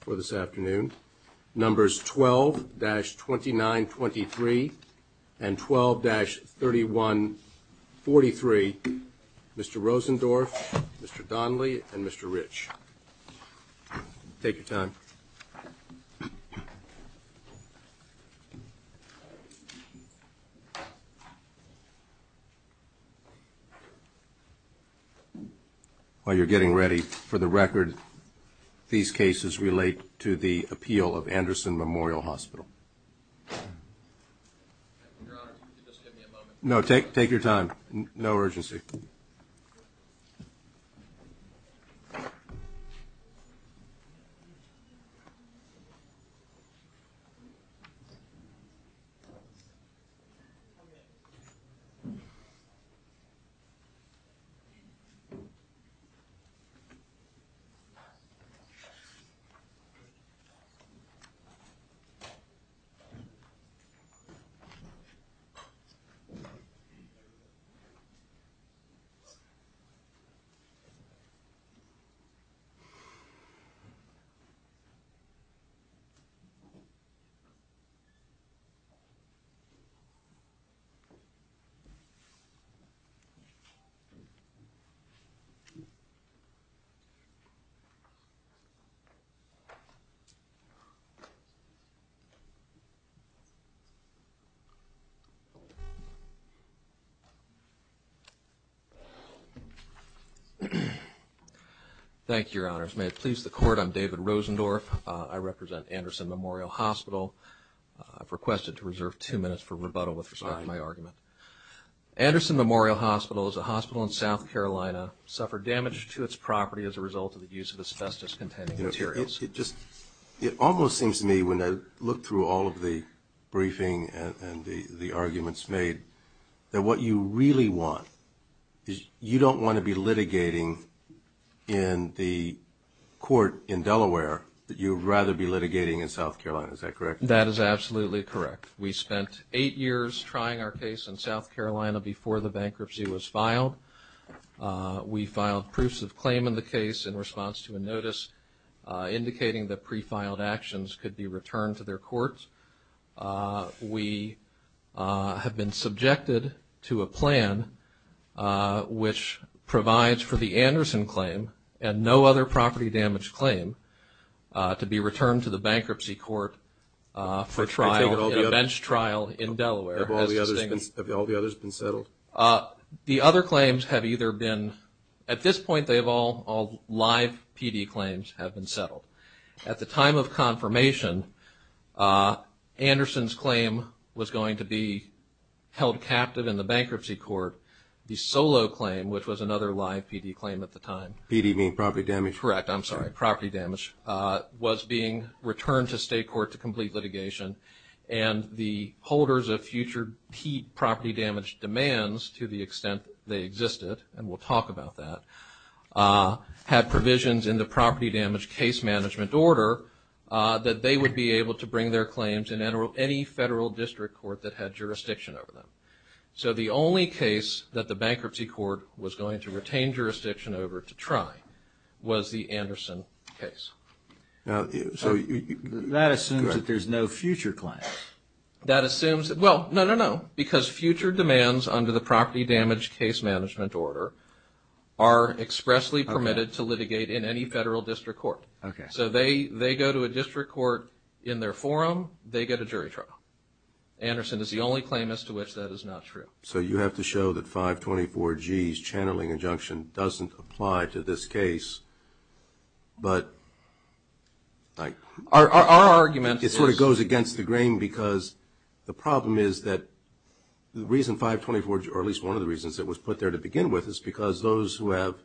for this afternoon. Numbers 12-2923 and 12-3143, Mr. Rosendorf, Mr. Donley, and Mr. Rich. Take your time. While you're getting ready, for the record, these cases relate to the the court. I'm David Rosendorf. I represent Anderson Memorial Hospital. I've requested to reserve two minutes for rebuttal with respect to my argument. Anderson Memorial Hospital is a hospital in South Carolina, suffered damage to its property as a result of the use of asbestos-containing materials. It almost seems to me when I look through all of the briefing and the arguments made that what you really want is you don't want to be litigating in the court in Delaware, that you'd rather be litigating in South Carolina. Is that correct? That is absolutely correct. We spent eight years trying our case in South Carolina before the bankruptcy was filed. We filed proofs of claim in the case in response to a notice indicating that pre-filed actions could be returned to their courts. We have been subjected to a plan which provides for the Anderson claim and no other property damage claim to be returned to the bankruptcy court for trial in a bench trial in Delaware. Have all the others been settled? At this point, all live PD claims have been settled. At the time of the bankruptcy court, the solo claim, which was another live PD claim at the time, was being returned to state court to complete litigation. The holders of future key property damage demands to the extent they existed, and we'll talk about that, had provisions in the property damage case management order that they would be able to bring their claims in any federal district court that had jurisdiction over them. So the only case that the bankruptcy court was going to retain jurisdiction over to try was the Anderson case. That assumes that there's no future claim. That assumes that, well, no, no, no, because future demands under the property damage case management order are expressly permitted to litigate in any federal district court. So they go to a district court in their forum, they get a jury trial. Anderson is the only claim as to which that is not true. So you have to show that 524G's channeling injunction doesn't apply to this case, but our argument is... It sort of goes against the grain because the problem is that the reason 524G, or at least one of the reasons it was put there to begin with, is because those who have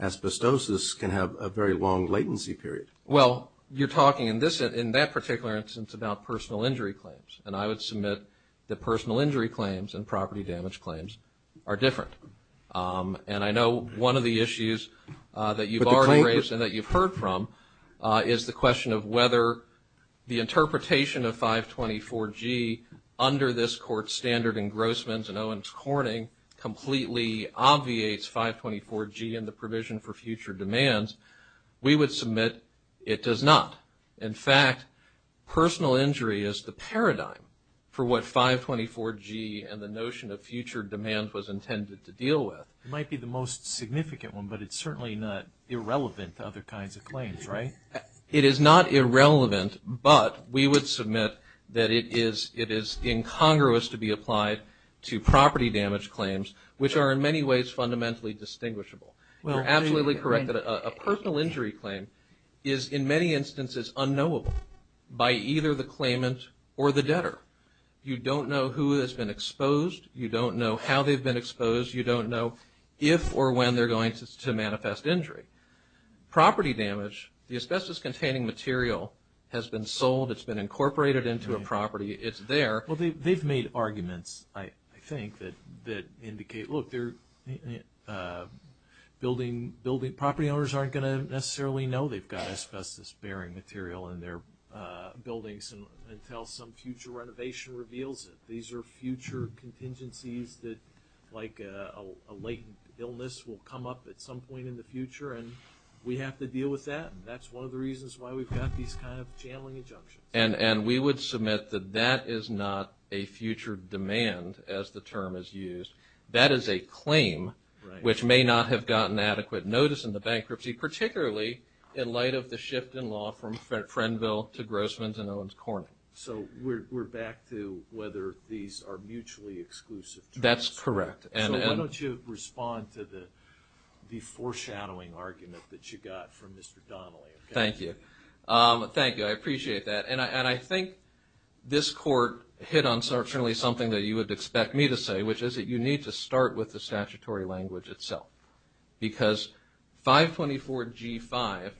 asbestosis can have a very long latency period. Well, you're talking in that particular instance about personal injury claims, and I would submit that personal injury claims and property damage claims are different. And I know one of the issues that you've already raised and that you've heard from is the question of whether the interpretation of 524G under this court's standard engrossments and Owens-Corning completely obviates 524G in the provision for future demands. We would submit it does not. In fact, personal injury is the paradigm for what 524G and the notion of future demands was intended to deal with. It might be the most significant one, but it's certainly not irrelevant to other kinds of claims, right? It is not irrelevant, but we would submit that it is incongruous to be applied to property damage claims, which are in many ways fundamentally distinguishable. You're absolutely correct that a personal injury claim is in many instances unknowable by either the claimant or the debtor. You don't know who has been exposed. You don't know how they've been exposed. You don't know if or when they're going to manifest injury. Property damage, the asbestos-containing material has been sold. It's been incorporated into a property. It's there. They've made arguments, I think, that indicate, look, property owners aren't going to necessarily know they've got asbestos-bearing material in their buildings until some future renovation reveals it. These are future contingencies that, like a latent illness, will come up at some point in the future, and we have to deal with that. That's one of the reasons why we've got these kind of channeling injunctions. We would submit that that is not a future demand, as the term is used. That is a claim which may not have gotten adequate notice in the bankruptcy, particularly in light of the shift in law from Frenville to Grossman's and Owens-Cornyn. We're back to whether these are mutually exclusive terms. That's correct. Why don't you respond to the foreshadowing argument that you got from Mr. Donnelly? Thank you. Thank you. I appreciate that. I think this court hit on certainly something that you would expect me to say, which is that you need to start with the statutory language itself, because 524G5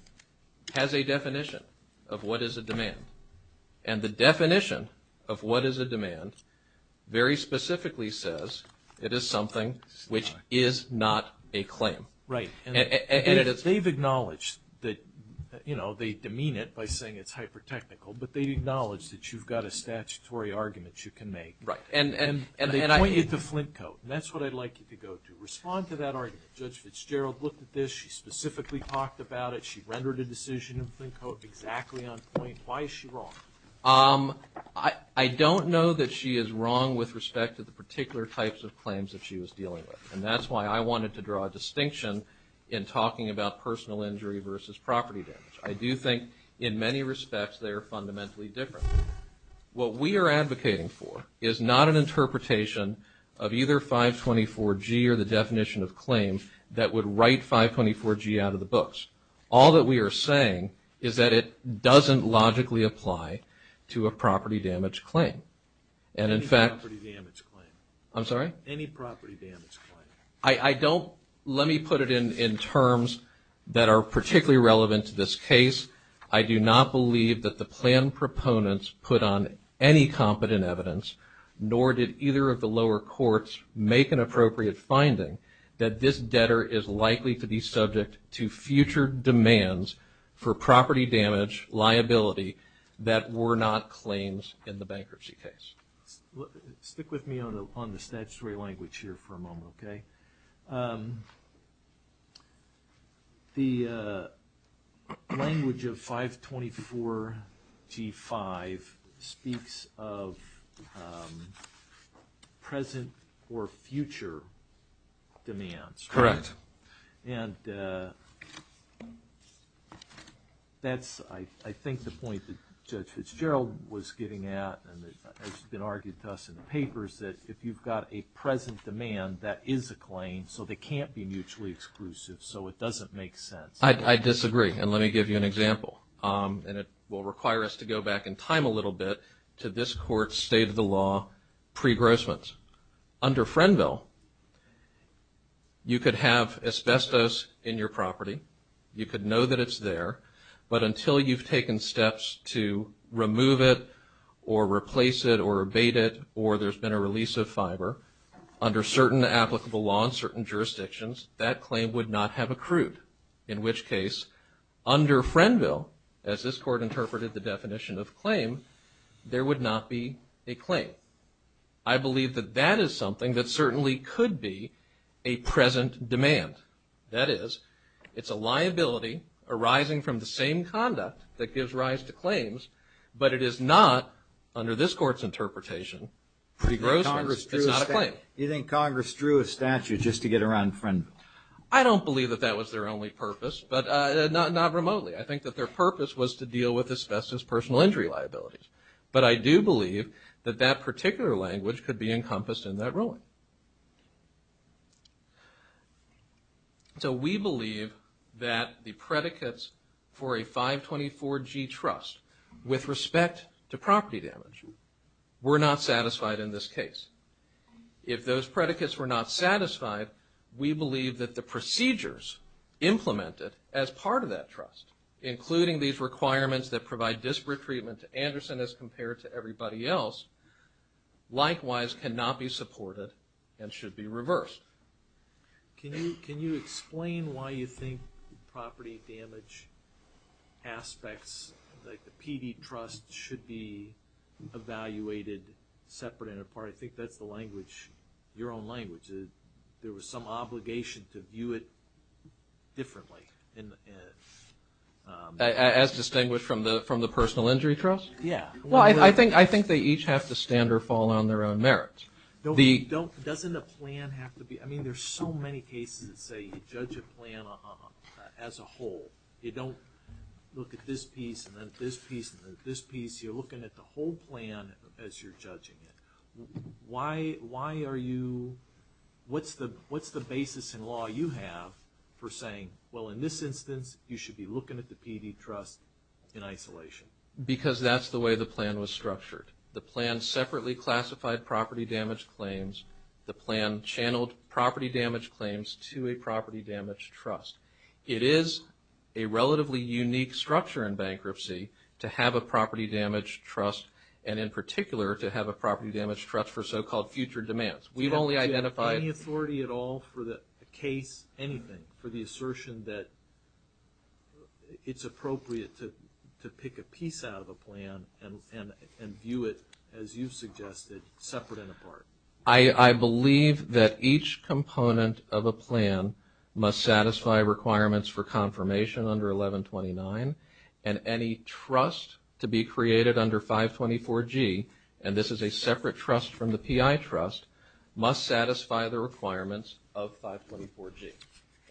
has a definition of what is a demand. The definition of what is a demand very specifically says it is something which is not a claim. Right. They've acknowledged that, you know, they demean it by saying it's hyper-technical, but they acknowledge that you've got a statutory argument you can make. Right. And they point you to Flint Coat, and that's what I'd like you to go to. Respond to that argument. Judge Fitzgerald looked at this. She specifically talked about it. She rendered a decision in Flint Coat exactly on point. Why is she wrong? I don't know that she is wrong with respect to the particular types of claims that she was dealing with. And that's why I wanted to draw a distinction in talking about personal injury versus property damage. I do think, in many respects, they are fundamentally different. What we are advocating for is not an interpretation of either 524G or the definition of claim that would write 524G out of the books. All that we are saying is that it doesn't logically apply to a property damage claim. And, in fact... Any property damage claim. I'm sorry? Any property damage claim. I don't... Let me put it in terms that are particularly relevant to this case. I do not believe that the plan proponents put on any competent evidence, nor did either of the lower courts make an appropriate finding, that this debtor is likely to be subject to future demands for property damage liability that were not claims in the bankruptcy case. Stick with me on the statutory language here for a moment, okay? The language of 524G-5 speaks of present or future demands. Correct. And that's, I think, the point that Judge Fitzgerald was getting at, and it's been argued to us in the papers, that if you've got a present demand, that is a claim, so they can't be mutually exclusive. So it doesn't make sense. I disagree. And let me give you an example. And it will require us to go back in time a little bit to this court's state of the law pre-grossments. Under Frenville, you could have asbestos in your property. You could know that it's there, but until you've taken steps to remove it or replace it or abate it or there's been a release of fiber, under certain applicable law in certain jurisdictions, that claim would not have accrued, in which case, under Frenville, as this court interpreted the definition of claim, there would not be a claim. I believe that that is something that certainly could be a present demand. That is, it's a liability arising from the same conduct that gives rise to claims, but it is not, under this court's interpretation, pre-grossments. It's not a claim. You think Congress drew a statute just to get around Frenville? I don't believe that that was their only purpose, but not remotely. I think that their purpose was to deal with asbestos personal injury liabilities. But I do believe that that particular language could be encompassed in that ruling. So we believe that the predicates for a 524G trust, with respect to property damage, were not satisfied in this case. If those predicates were not satisfied, we believe that the procedures implemented as part of that trust, including these requirements that provide disparate treatment to Anderson as compared to everybody else, likewise cannot be supported and should be reversed. Can you explain why you think property damage aspects, like the PD trust, should be evaluated separate and apart? I think that's the language, your own language. There was some obligation to view it differently. As distinguished from the personal injury trust? Yeah. Well, I think they each have to stand or fall on their own merits. Doesn't the plan have to be... I mean, there's so many cases that say you judge a plan as a whole. You don't look at this piece and then this piece and then this piece. You're looking at the whole plan as you're judging it. Why are you... what's the basis in law you have for saying, well, in this instance, you should be looking at the PD trust in isolation? Because that's the way the plan was structured. The plan separately classified property damage claims. The plan channeled property damage claims to a property damage trust. It is a relatively unique structure in bankruptcy to have a property damage trust, and in particular to have a property damage trust for so-called future demands. We've only identified... Do you have any authority at all for the case, anything, for the assertion that it's a piece out of a plan and view it, as you've suggested, separate and apart? I believe that each component of a plan must satisfy requirements for confirmation under 1129, and any trust to be created under 524G, and this is a separate trust from the PI trust, must satisfy the requirements of 524G.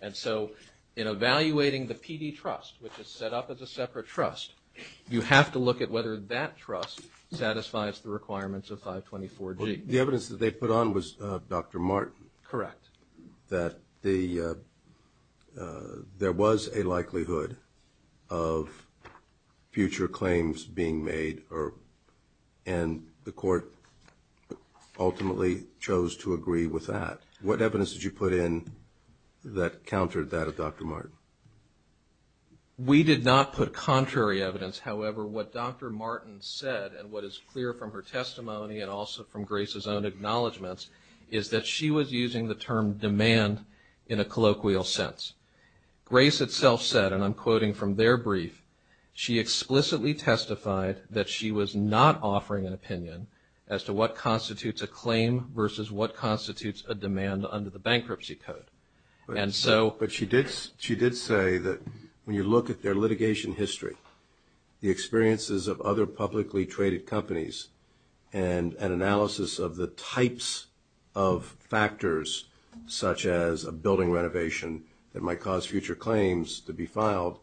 And so in evaluating the PD trust, which is a separate trust, you have to look at whether that trust satisfies the requirements of 524G. The evidence that they put on was Dr. Martin? Correct. That there was a likelihood of future claims being made, and the court ultimately chose to agree with that. What evidence did you put in that countered that of Dr. Martin? We did not put contrary evidence. However, what Dr. Martin said, and what is clear from her testimony and also from Grace's own acknowledgments, is that she was using the term demand in a colloquial sense. Grace itself said, and I'm quoting from their brief, she explicitly testified that she was not offering an opinion as to what constitutes a claim versus what constitutes a demand under the Bankruptcy Code. But she did say that when you look at their litigation history, the experiences of other publicly traded companies, and an analysis of the types of factors such as a building renovation that might cause future claims to be filed,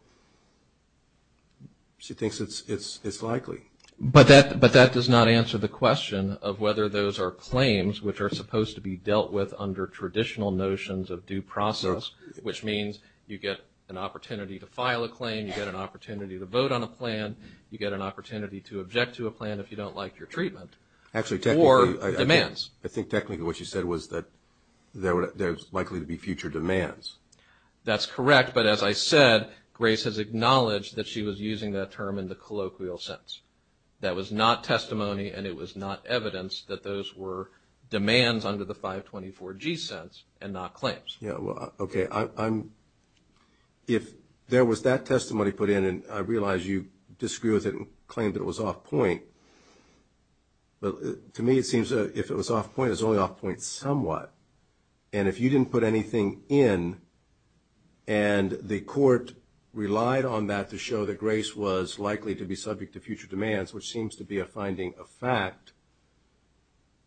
she thinks it's likely. But that does not answer the question of whether those are claims which are supposed to be a due process, which means you get an opportunity to file a claim, you get an opportunity to vote on a plan, you get an opportunity to object to a plan if you don't like your treatment, or demands. I think technically what she said was that there's likely to be future demands. That's correct, but as I said, Grace has acknowledged that she was using that term in the colloquial sense. That was not testimony, and it was not evidence that those were demands under the 524G sense, and not claims. Okay, if there was that testimony put in, and I realize you disagree with it and claim that it was off point, but to me it seems if it was off point, it was only off point somewhat. And if you didn't put anything in, and the court relied on that to show that Grace was likely to be subject to future demands, which seems to be a finding of fact,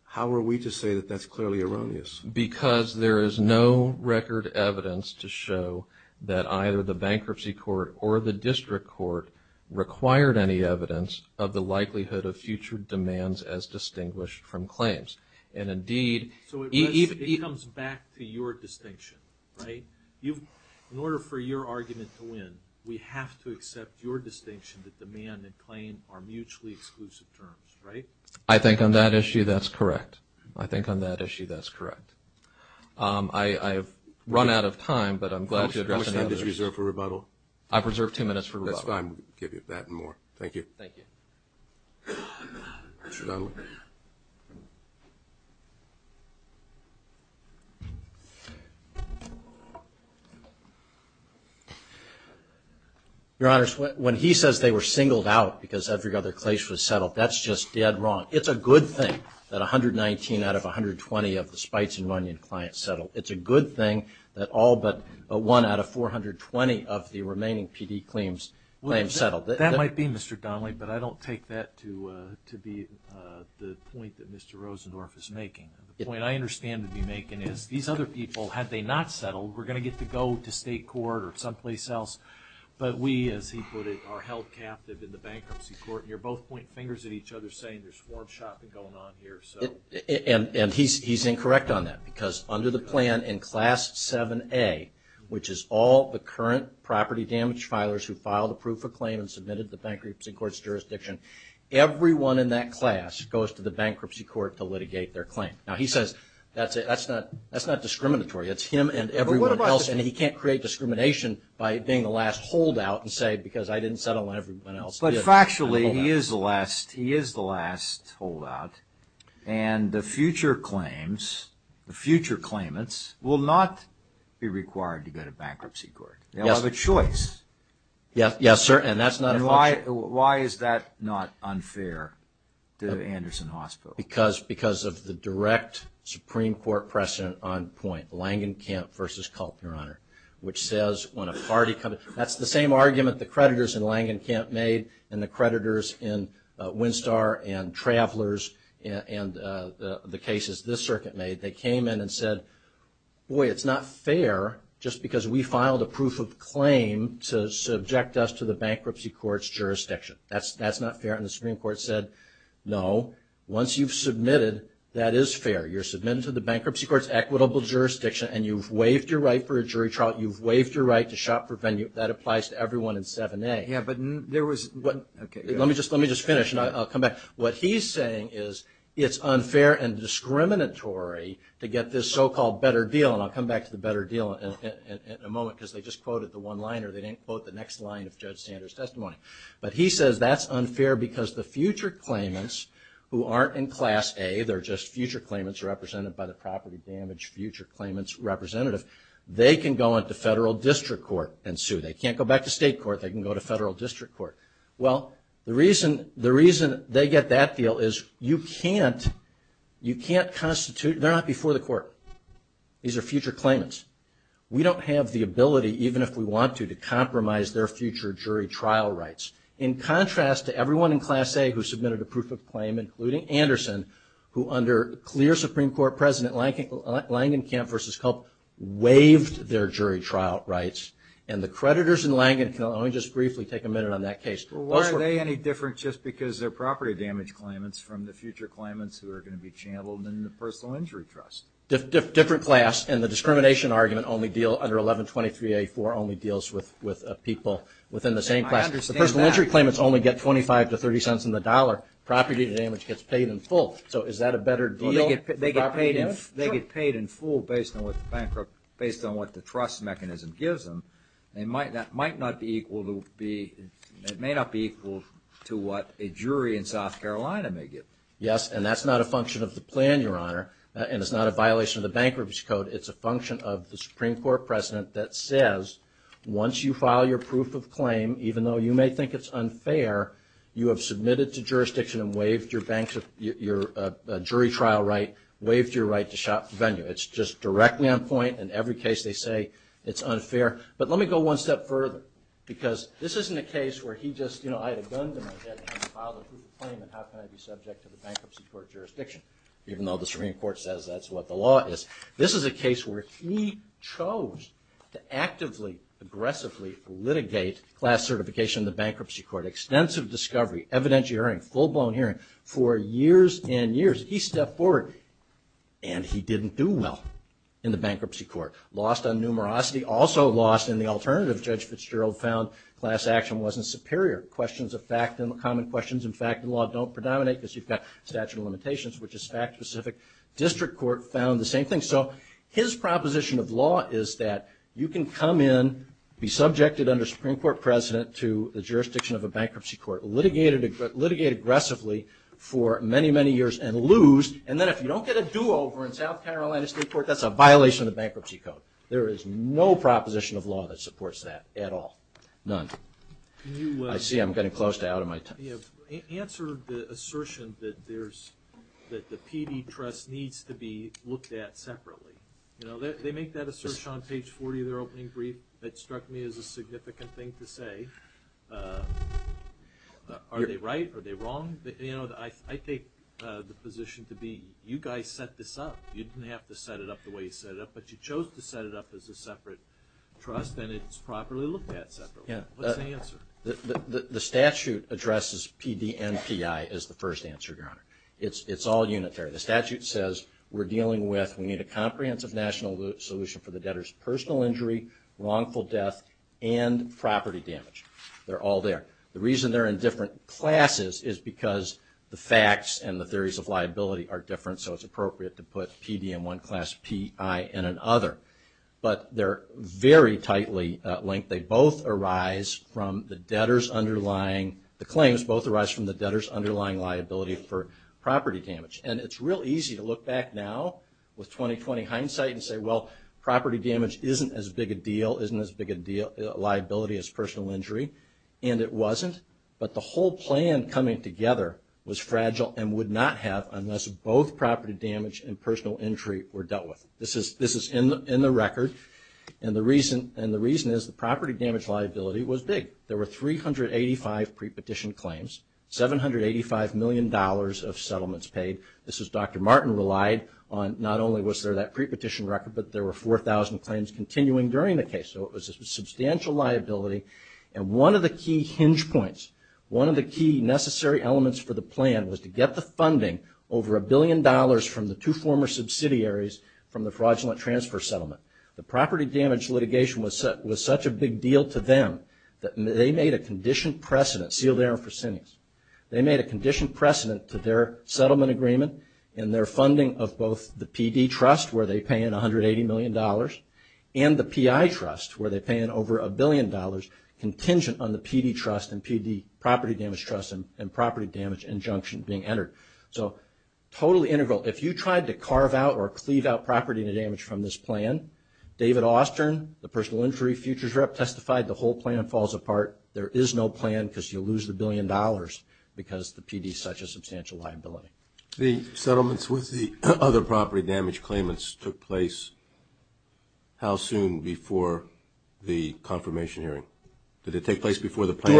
how are we to say that that's clearly erroneous? Because there is no record evidence to show that either the bankruptcy court or the district court required any evidence of the likelihood of future demands as distinguished from claims. And indeed... So it comes back to your distinction, right? In order for your argument to win, we have to accept your distinction that demand and claim are mutually exclusive terms, right? I think on that issue that's correct. I think on that issue that's correct. I've run out of time, but I'm glad to address any others. How much time did you reserve for rebuttal? I've reserved two minutes for rebuttal. That's fine. We'll give you that and more. Thank you. Thank you. Your Honors, when he says they were singled out because every other case was settled, that's just dead wrong. It's a good thing that 119 out of 120 of the Spites and Runyon clients settled. It's a good thing that all but one out of 420 of the remaining PD claims settled. That might be, Mr. Donnelly, but I don't take that to be the point that Mr. Rosendorf is making. The point I understand to be making is these other people, had they not settled, were going to get to go to state court or someplace else, but we, as he put it, are saying there's form shopping going on here. And he's incorrect on that, because under the plan in Class 7A, which is all the current property damage filers who filed a proof of claim and submitted to the bankruptcy court's jurisdiction, everyone in that class goes to the bankruptcy court to litigate their claim. Now he says that's not discriminatory. It's him and everyone else, and he can't create discrimination by being the last holdout and saying because I didn't settle and everyone else did. But factually, he is the last holdout, and the future claims, the future claimants, will not be required to go to bankruptcy court. They'll have a choice. Yes, sir, and that's not a function... And why is that not unfair to Anderson Hospital? Because of the direct Supreme Court precedent on point, Langenkamp v. Kulp, Your Honor, which says when a party comes... That's the same argument the creditors in Langenkamp made and the creditors in Winstar and Travelers and the cases this circuit made. They came in and said, boy, it's not fair just because we filed a proof of claim to subject us to the bankruptcy court's jurisdiction. That's not fair. And the Supreme Court said, no, once you've submitted, that is fair. You're submitted to the bankruptcy court's equitable jurisdiction, and you've waived your right for a jury trial. You've waived your right to shop for venue. That applies to everyone in 7A. Yeah, but there was... Let me just finish and I'll come back. What he's saying is it's unfair and discriminatory to get this so-called better deal, and I'll come back to the better deal in a moment because they just quoted the one line or they didn't quote the next line of Judge Sanders' testimony. But he says that's unfair because the future claimants who aren't in Class A, they're just future claimants represented by the property damage future claimants representative, they can go into federal district court and sue. They can't go back to state court. They can go to federal district court. Well, the reason they get that deal is you can't constitute... They're not before the court. These are future claimants. We don't have the ability, even if we want to, to compromise their future jury trial rights. In contrast to everyone in Class A who submitted a proof of claim, including Anderson, who under clear Supreme Court President Langenkamp v. Kulp waived their jury trial rights, and the creditors in Langenkamp... Let me just briefly take a minute on that case. Well, why are they any different just because they're property damage claimants from the future claimants who are going to be channeled in the personal injury trust? Different class, and the discrimination argument only deal... Under 1123A4 only deals with people within the same class. The personal injury claimants only get 25 to 30 cents in the dollar. Property damage gets paid in full. So is that a better deal? They get paid in full based on what the trust mechanism gives them. That may not be equal to what a jury in South Carolina may get. Yes, and that's not a function of the plan, Your Honor, and it's not a violation of the Bankruptcy Code. It's a function of the Supreme Court precedent that says once you file your proof of claim, even though you may think it's unfair, you have submitted to jurisdiction and waived your jury trial right, waived your right to shop the venue. It's just directly on point. In every case they say it's unfair. But let me go one step further because this isn't a case where he just, you know, I had a gun to my head and I filed a proof of claim, and how can I be subject to the Bankruptcy Court jurisdiction, even though the Supreme Court says that's what the law is? This is a case where he chose to actively, aggressively litigate class certification in the Bankruptcy Court, extensive discovery, evident hearing, full-blown hearing. For years and years he stepped forward, and he didn't do well in the Bankruptcy Court. Lost on numerosity, also lost in the alternative. Judge Fitzgerald found class action wasn't superior. Questions of fact and common questions in fact and law don't predominate because you've got statute of limitations, which is fact-specific. District Court found the same thing. So his proposition of law is that you can come in, be subjected under Supreme Court precedent to the jurisdiction of a Bankruptcy Court, litigate aggressively for many, many years, and lose, and then if you don't get a do-over in South Carolina State Court, that's a violation of the Bankruptcy Court. There is no proposition of law that supports that at all. None. I see I'm getting close to out of my time. You have answered the assertion that the PD trust needs to be looked at separately. They make that assertion on page 40 of their opening brief. It struck me as a significant thing to say. Are they right? Are they wrong? You know, I take the position to be you guys set this up. You didn't have to set it up the way you set it up, but you chose to set it up as a separate trust and it's properly looked at separately. What's the answer? The statute addresses PD and PI as the first answer, Your Honor. It's all unitary. The statute says we're dealing with we need a comprehensive national solution for the debtor's personal injury, wrongful death, and property damage. They're all there. The reason they're in different classes is because the facts and the theories of liability are different, so it's appropriate to put PD in one class, PI in another. But they're very tightly linked. They both arise from the debtor's underlying, the claims both arise from the debtor's underlying liability for property damage. And it's real easy to look back now with 20-20 hindsight and say, well, property damage isn't as big a deal, isn't as big a liability as personal injury, and it wasn't. But the whole plan coming together was fragile and would not have unless both property damage and personal injury were dealt with. This is in the record, and the reason is the property damage liability was big. There were 385 pre-petition claims, $785 million of settlements paid. This is Dr. Martin relied on not only was there that pre-petition record, but there were 4,000 claims continuing during the case. So it was a substantial liability. And one of the key hinge points, one of the key necessary elements for the plan, was to get the funding over a billion dollars from the two former subsidiaries from the fraudulent transfer settlement. The property damage litigation was such a big deal to them that they made a conditioned precedent, Sealed Air and Fresenius, they made a conditioned precedent to their settlement agreement and their funding of both the PD trust, where they pay in $180 million, and the PI trust, where they pay in over a billion dollars contingent on the PD trust and PD property damage trust and property damage injunction being entered. So totally integral. If you tried to carve out or cleave out property damage from this plan, David Austern, the personal injury futures rep, testified the whole plan falls apart. There is no plan because you lose the billion dollars because the PD is such a substantial liability. The settlements with the other property damage claimants took place how soon before the confirmation hearing? Did it take place before the plan?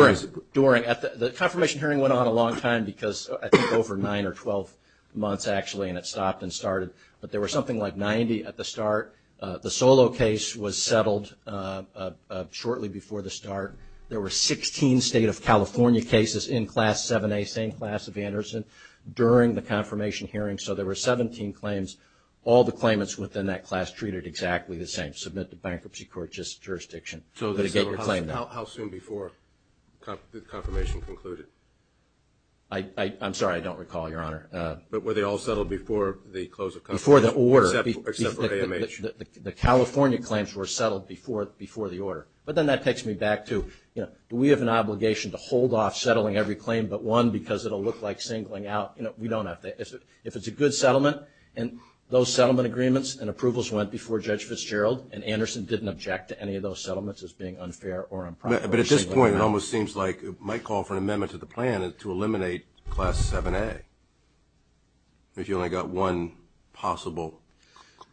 During. The confirmation hearing went on a long time because I think over nine or 12 months, actually, and it stopped and started. But there was something like 90 at the start. The Solo case was settled shortly before the start. There were 16 State of California cases in Class 7A, same class of Anderson, during the confirmation hearing. So there were 17 claims. All the claimants within that class treated exactly the same. Submit to bankruptcy court, just jurisdiction. How soon before the confirmation concluded? I'm sorry, I don't recall, Your Honor. But were they all settled before the close of confirmation? Before the order. Except for AMH. The California claims were settled before the order. But then that takes me back to, you know, do we have an obligation to hold off settling every claim but one because it will look like singling out? You know, we don't have to. If it's a good settlement and those settlement agreements and approvals went before Judge Fitzgerald and Anderson didn't object to any of those settlements as being unfair or improper. But at this point it almost seems like it might call for an amendment to the plan to eliminate Class 7A if you only got one possible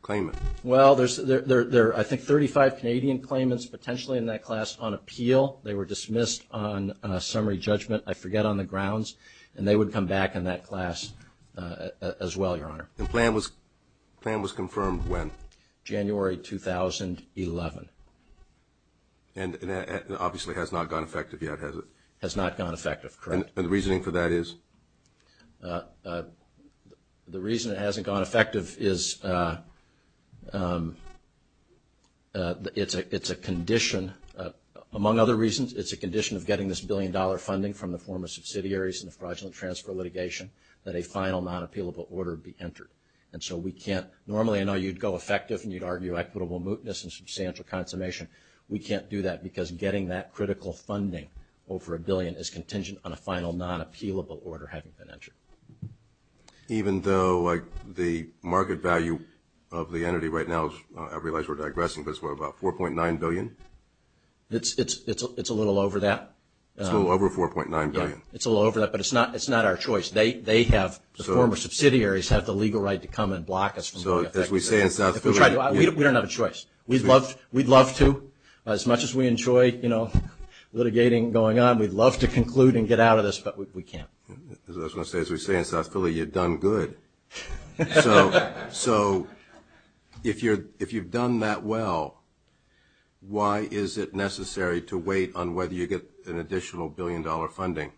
claimant. Well, there are I think 35 Canadian claimants potentially in that class on appeal. They were dismissed on summary judgment. I forget on the grounds. And they would come back in that class as well, Your Honor. The plan was confirmed when? January 2011. And obviously has not gone effective yet, has it? Has not gone effective, correct. And the reasoning for that is? The reason it hasn't gone effective is it's a condition. Among other reasons, it's a condition of getting this billion-dollar funding from the former subsidiaries in the fraudulent transfer litigation that a final non-appealable order be entered. And so we can't normally, I know you'd go effective and you'd argue equitable mootness and substantial consummation. We can't do that because getting that critical funding over a billion is contingent on a final non-appealable order having been entered. Even though the market value of the entity right now, I realize we're digressing, but it's about $4.9 billion? It's a little over that. It's a little over $4.9 billion. It's a little over that, but it's not our choice. They have, the former subsidiaries, have the legal right to come and block us. So as we say in South Philly. We don't have a choice. We'd love to, as much as we enjoy litigating going on, we'd love to conclude and get out of this, but we can't. I was going to say, as we say in South Philly, you've done good. So if you've done that well, why is it necessary to wait on whether you get an additional billion-dollar funding,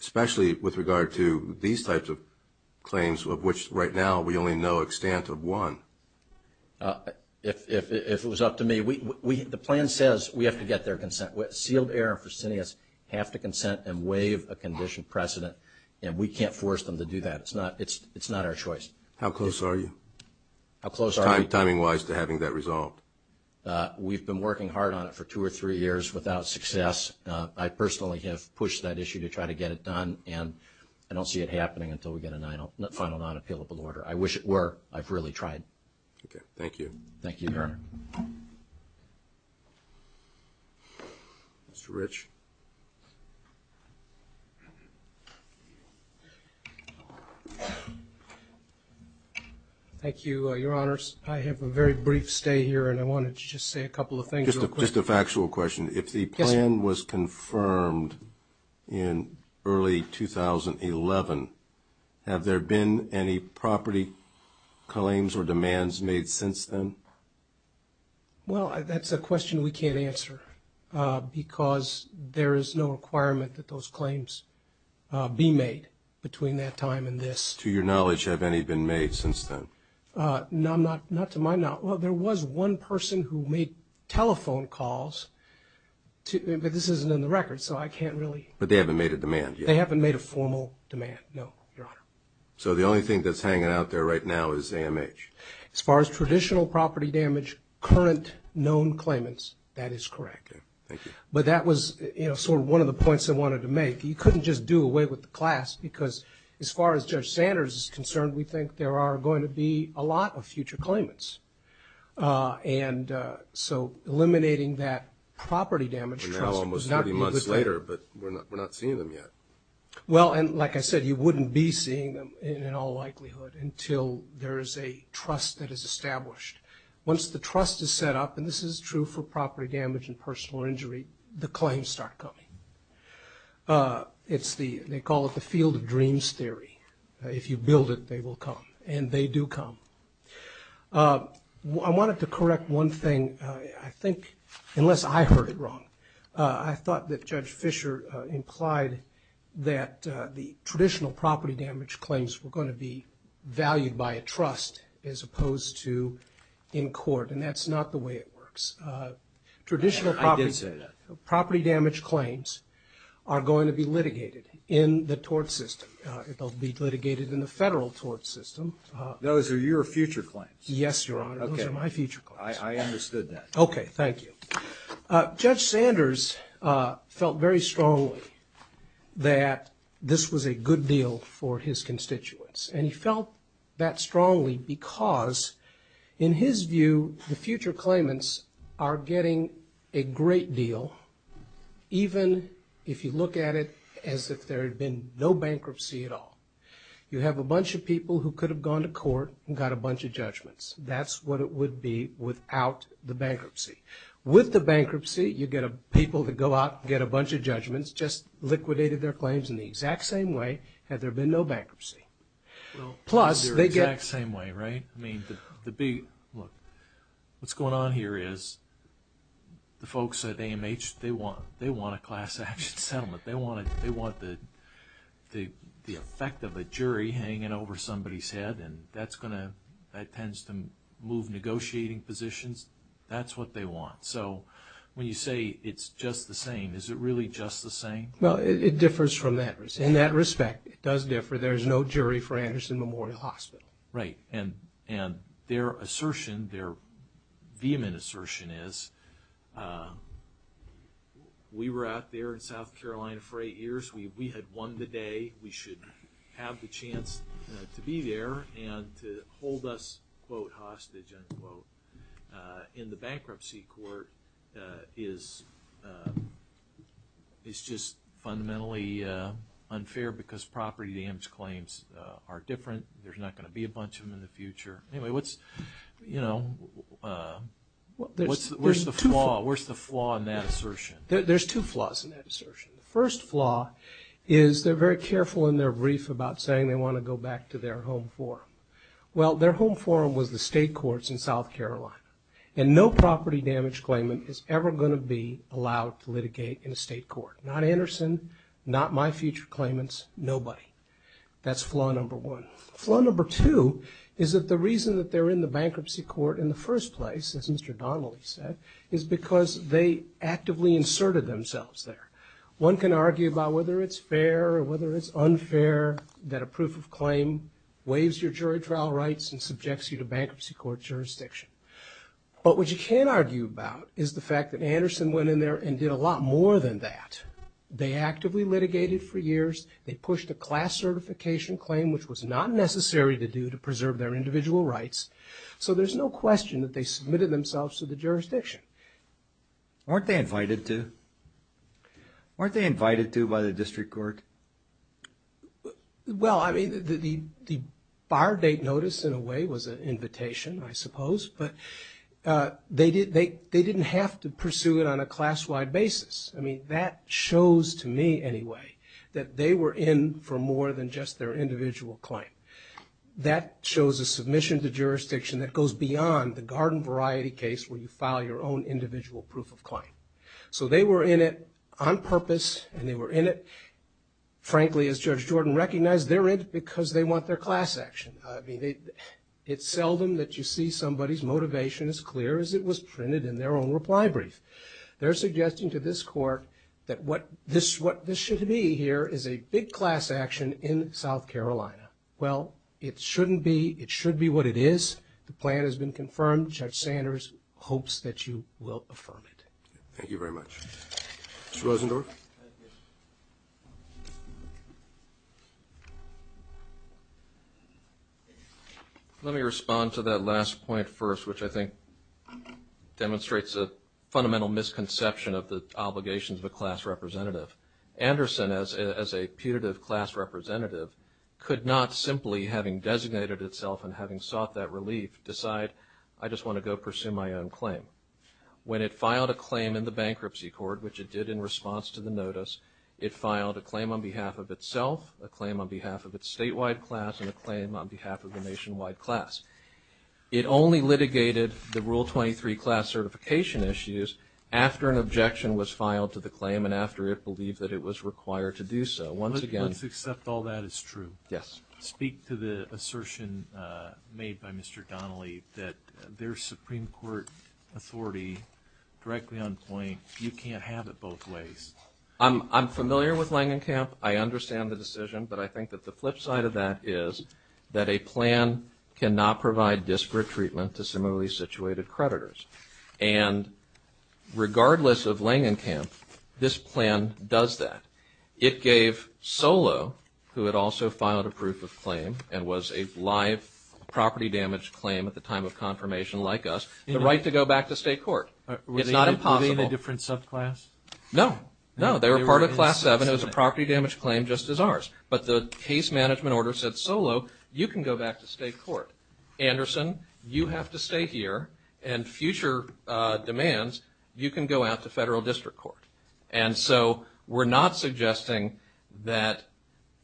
especially with regard to these types of claims of which right now we only know an extent of one? If it was up to me. The plan says we have to get their consent. Sealed Air and Fresenius have to consent and waive a condition precedent, and we can't force them to do that. It's not our choice. How close are you? How close are you? Timing-wise to having that resolved. We've been working hard on it for two or three years without success. I personally have pushed that issue to try to get it done, and I don't see it happening until we get a final non-appealable order. I wish it were. I've really tried. Okay. Thank you. Thank you, Eric. Mr. Rich. Thank you, Your Honors. I have a very brief stay here, and I wanted to just say a couple of things real quick. Just a factual question. If the plan was confirmed in early 2011, have there been any property claims or demands made since then? Well, that's a question we can't answer, because there is no requirement that those claims be made between that time and this. To your knowledge, have any been made since then? Not to my knowledge. Well, there was one person who made telephone calls, but this isn't in the record, so I can't really. But they haven't made a demand yet? They haven't made a formal demand, no, Your Honor. So the only thing that's hanging out there right now is AMH? As far as traditional property damage, current known claimants, that is correct. Thank you. But that was sort of one of the points I wanted to make. You couldn't just do away with the class, because as far as Judge Sanders is concerned, we think there are going to be a lot of future claimants. And so eliminating that property damage trust was not a good idea. Probably months later, but we're not seeing them yet. Well, and like I said, you wouldn't be seeing them in all likelihood until there is a trust that is established. Once the trust is set up, and this is true for property damage and personal injury, the claims start coming. They call it the field of dreams theory. If you build it, they will come. And they do come. I wanted to correct one thing. I think, unless I heard it wrong, I thought that Judge Fischer implied that the traditional property damage claims were going to be valued by a trust as opposed to in court, and that's not the way it works. I did say that. Traditional property damage claims are going to be litigated in the tort system. They'll be litigated in the federal tort system. Those are your future claims. Yes, Your Honor. Those are my future claims. I understood that. Okay. Thank you. Judge Sanders felt very strongly that this was a good deal for his constituents, and he felt that strongly because, in his view, the future claimants are getting a great deal, even if you look at it as if there had been no bankruptcy at all. You have a bunch of people who could have gone to court and got a bunch of judgments. That's what it would be without the bankruptcy. With the bankruptcy, you get people to go out and get a bunch of judgments, just liquidated their claims in the exact same way had there been no bankruptcy. Well, they're the exact same way, right? I mean, look, what's going on here is the folks at AMH, they want a class action settlement. They want the effect of a jury hanging over somebody's head, and that tends to move negotiating positions. That's what they want. So when you say it's just the same, is it really just the same? Well, it differs from that. In that respect, it does differ. There is no jury for Anderson Memorial Hospital. Right. And their assertion, their vehement assertion, is we were out there in South Carolina for eight years. We had won the day. We should have the chance to be there and to hold us, quote, hostage, unquote. In the bankruptcy court, it's just fundamentally unfair because property dams claims are different. There's not going to be a bunch of them in the future. Anyway, what's, you know, where's the flaw in that assertion? There's two flaws in that assertion. The first flaw is they're very careful in their brief about saying they want to go back to their home forum. Well, their home forum was the state courts in South Carolina, and no property damage claimant is ever going to be allowed to litigate in a state court. Not Anderson, not my future claimants, nobody. That's flaw number one. Flaw number two is that the reason that they're in the bankruptcy court in the first place, as Mr. Donnelly said, is because they actively inserted themselves there. One can argue about whether it's fair or whether it's unfair that a proof of claim waives your jury trial rights and subjects you to bankruptcy court jurisdiction. But what you can argue about is the fact that Anderson went in there and did a lot more than that. They actively litigated for years. They pushed a class certification claim, which was not necessary to do to preserve their individual rights. So there's no question that they submitted themselves to the jurisdiction. Weren't they invited to? Weren't they invited to by the district court? Well, I mean, the bar date notice in a way was an invitation, I suppose, but they didn't have to pursue it on a class-wide basis. I mean, that shows to me anyway that they were in for more than just their individual claim. That shows a submission to jurisdiction that goes beyond the garden variety case where you file your own individual proof of claim. So they were in it on purpose and they were in it, frankly, as Judge Jordan recognized, they're in it because they want their class action. I mean, it's seldom that you see somebody's motivation as clear as it was printed in their own reply brief. They're suggesting to this court that what this should be here is a big class action in South Carolina. Well, it shouldn't be. It should be what it is. The plan has been confirmed. Judge Sanders hopes that you will affirm it. Thank you very much. Mr. Rosendorf. Let me respond to that last point first, which I think demonstrates a fundamental misconception of the obligations of a class representative. Anderson, as a putative class representative, could not simply having designated itself and having sought that relief decide, I just want to go pursue my own claim. When it filed a claim in the bankruptcy court, which it did in response to the notice, it filed a claim on behalf of itself, a claim on behalf of its statewide class, and a claim on behalf of the nationwide class. It only litigated the Rule 23 class certification issues after an objection was filed to the claim and after it believed that it was required to do so. Let's accept all that is true. Speak to the assertion made by Mr. Donnelly that their Supreme Court authority, directly on point, you can't have it both ways. I'm familiar with Langenkamp. I understand the decision, but I think that the flip side of that is that a plan cannot provide disparate treatment to similarly situated creditors. And regardless of Langenkamp, this plan does that. It gave Solo, who had also filed a proof of claim and was a live property damage claim at the time of confirmation like us, the right to go back to state court. It's not impossible. Were they in a different subclass? No. No, they were part of Class 7. It was a property damage claim just as ours. But the case management order said, Solo, you can go back to state court. Anderson, you have to stay here. And future demands, you can go out to federal district court. And so we're not suggesting that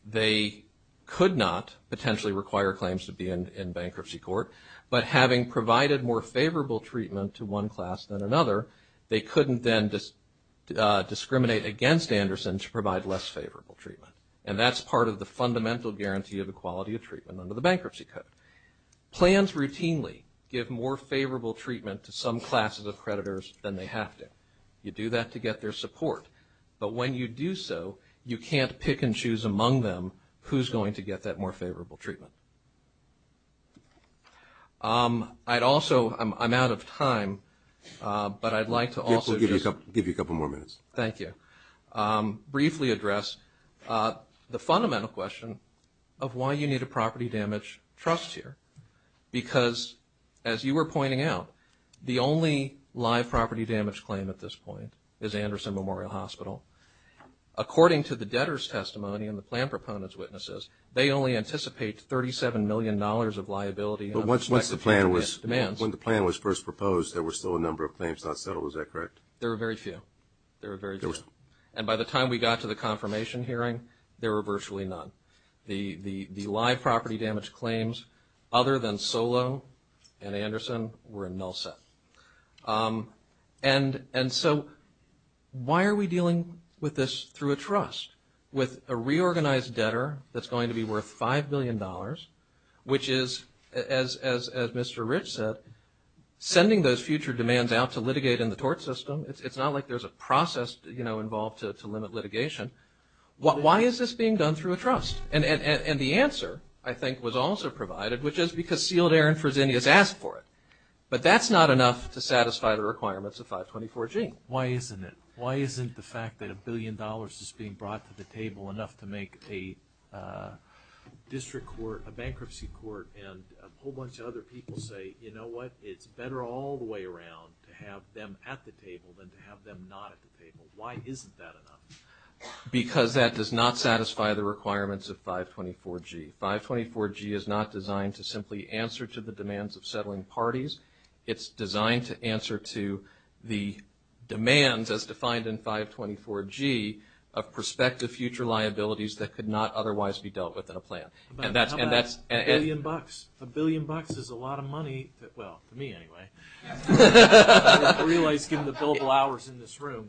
they could not potentially require claims to be in bankruptcy court, but having provided more favorable treatment to one class than another, they couldn't then discriminate against Anderson to provide less favorable treatment. And that's part of the fundamental guarantee of equality of treatment under the bankruptcy code. Plans routinely give more favorable treatment to some classes of creditors than they have to. You do that to get their support. But when you do so, you can't pick and choose among them who's going to get that more favorable treatment. I'd also – I'm out of time, but I'd like to also just – We'll give you a couple more minutes. Thank you. Briefly address the fundamental question of why you need a property damage trust here. Because as you were pointing out, the only live property damage claim at this point is Anderson Memorial Hospital. According to the debtor's testimony and the plan proponent's witnesses, they only anticipate $37 million of liability. But once the plan was – Demands. When the plan was first proposed, there were still a number of claims not settled. Is that correct? There were very few. There were very few. There were. And by the time we got to the confirmation hearing, there were virtually none. The live property damage claims, other than Solo and Anderson, were in null set. And so why are we dealing with this through a trust, with a reorganized debtor that's going to be worth $5 billion, which is, as Mr. Rich said, sending those future demands out to litigate in the tort system. It's not like there's a process involved to limit litigation. Why is this being done through a trust? And the answer, I think, was also provided, which is because sealed air in Fresenius asked for it. But that's not enough to satisfy the requirements of 524G. Why isn't it? Why isn't the fact that $1 billion is being brought to the table enough to make a district court, a bankruptcy court, and a whole bunch of other people say, you know what, it's better all the way around to have them at the table than to have them not at the table. Why isn't that enough? Because that does not satisfy the requirements of 524G. 524G is not designed to simply answer to the demands of settling parties. It's designed to answer to the demands, as defined in 524G, of prospective future liabilities that could not otherwise be dealt with in a plan. A billion bucks. A billion bucks is a lot of money. Well, to me anyway. I realize given the billable hours in this room.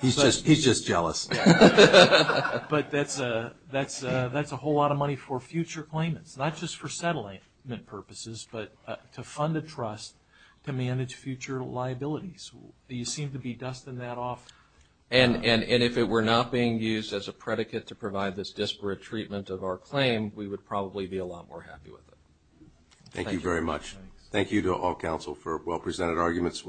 He's just jealous. But that's a whole lot of money for future claimants, not just for settlement purposes, but to fund a trust to manage future liabilities. You seem to be dusting that off. And if it were not being used as a predicate to provide this disparate treatment of our claim, we would probably be a lot more happy with it. Thank you very much. Thank you to all counsel for well-presented arguments.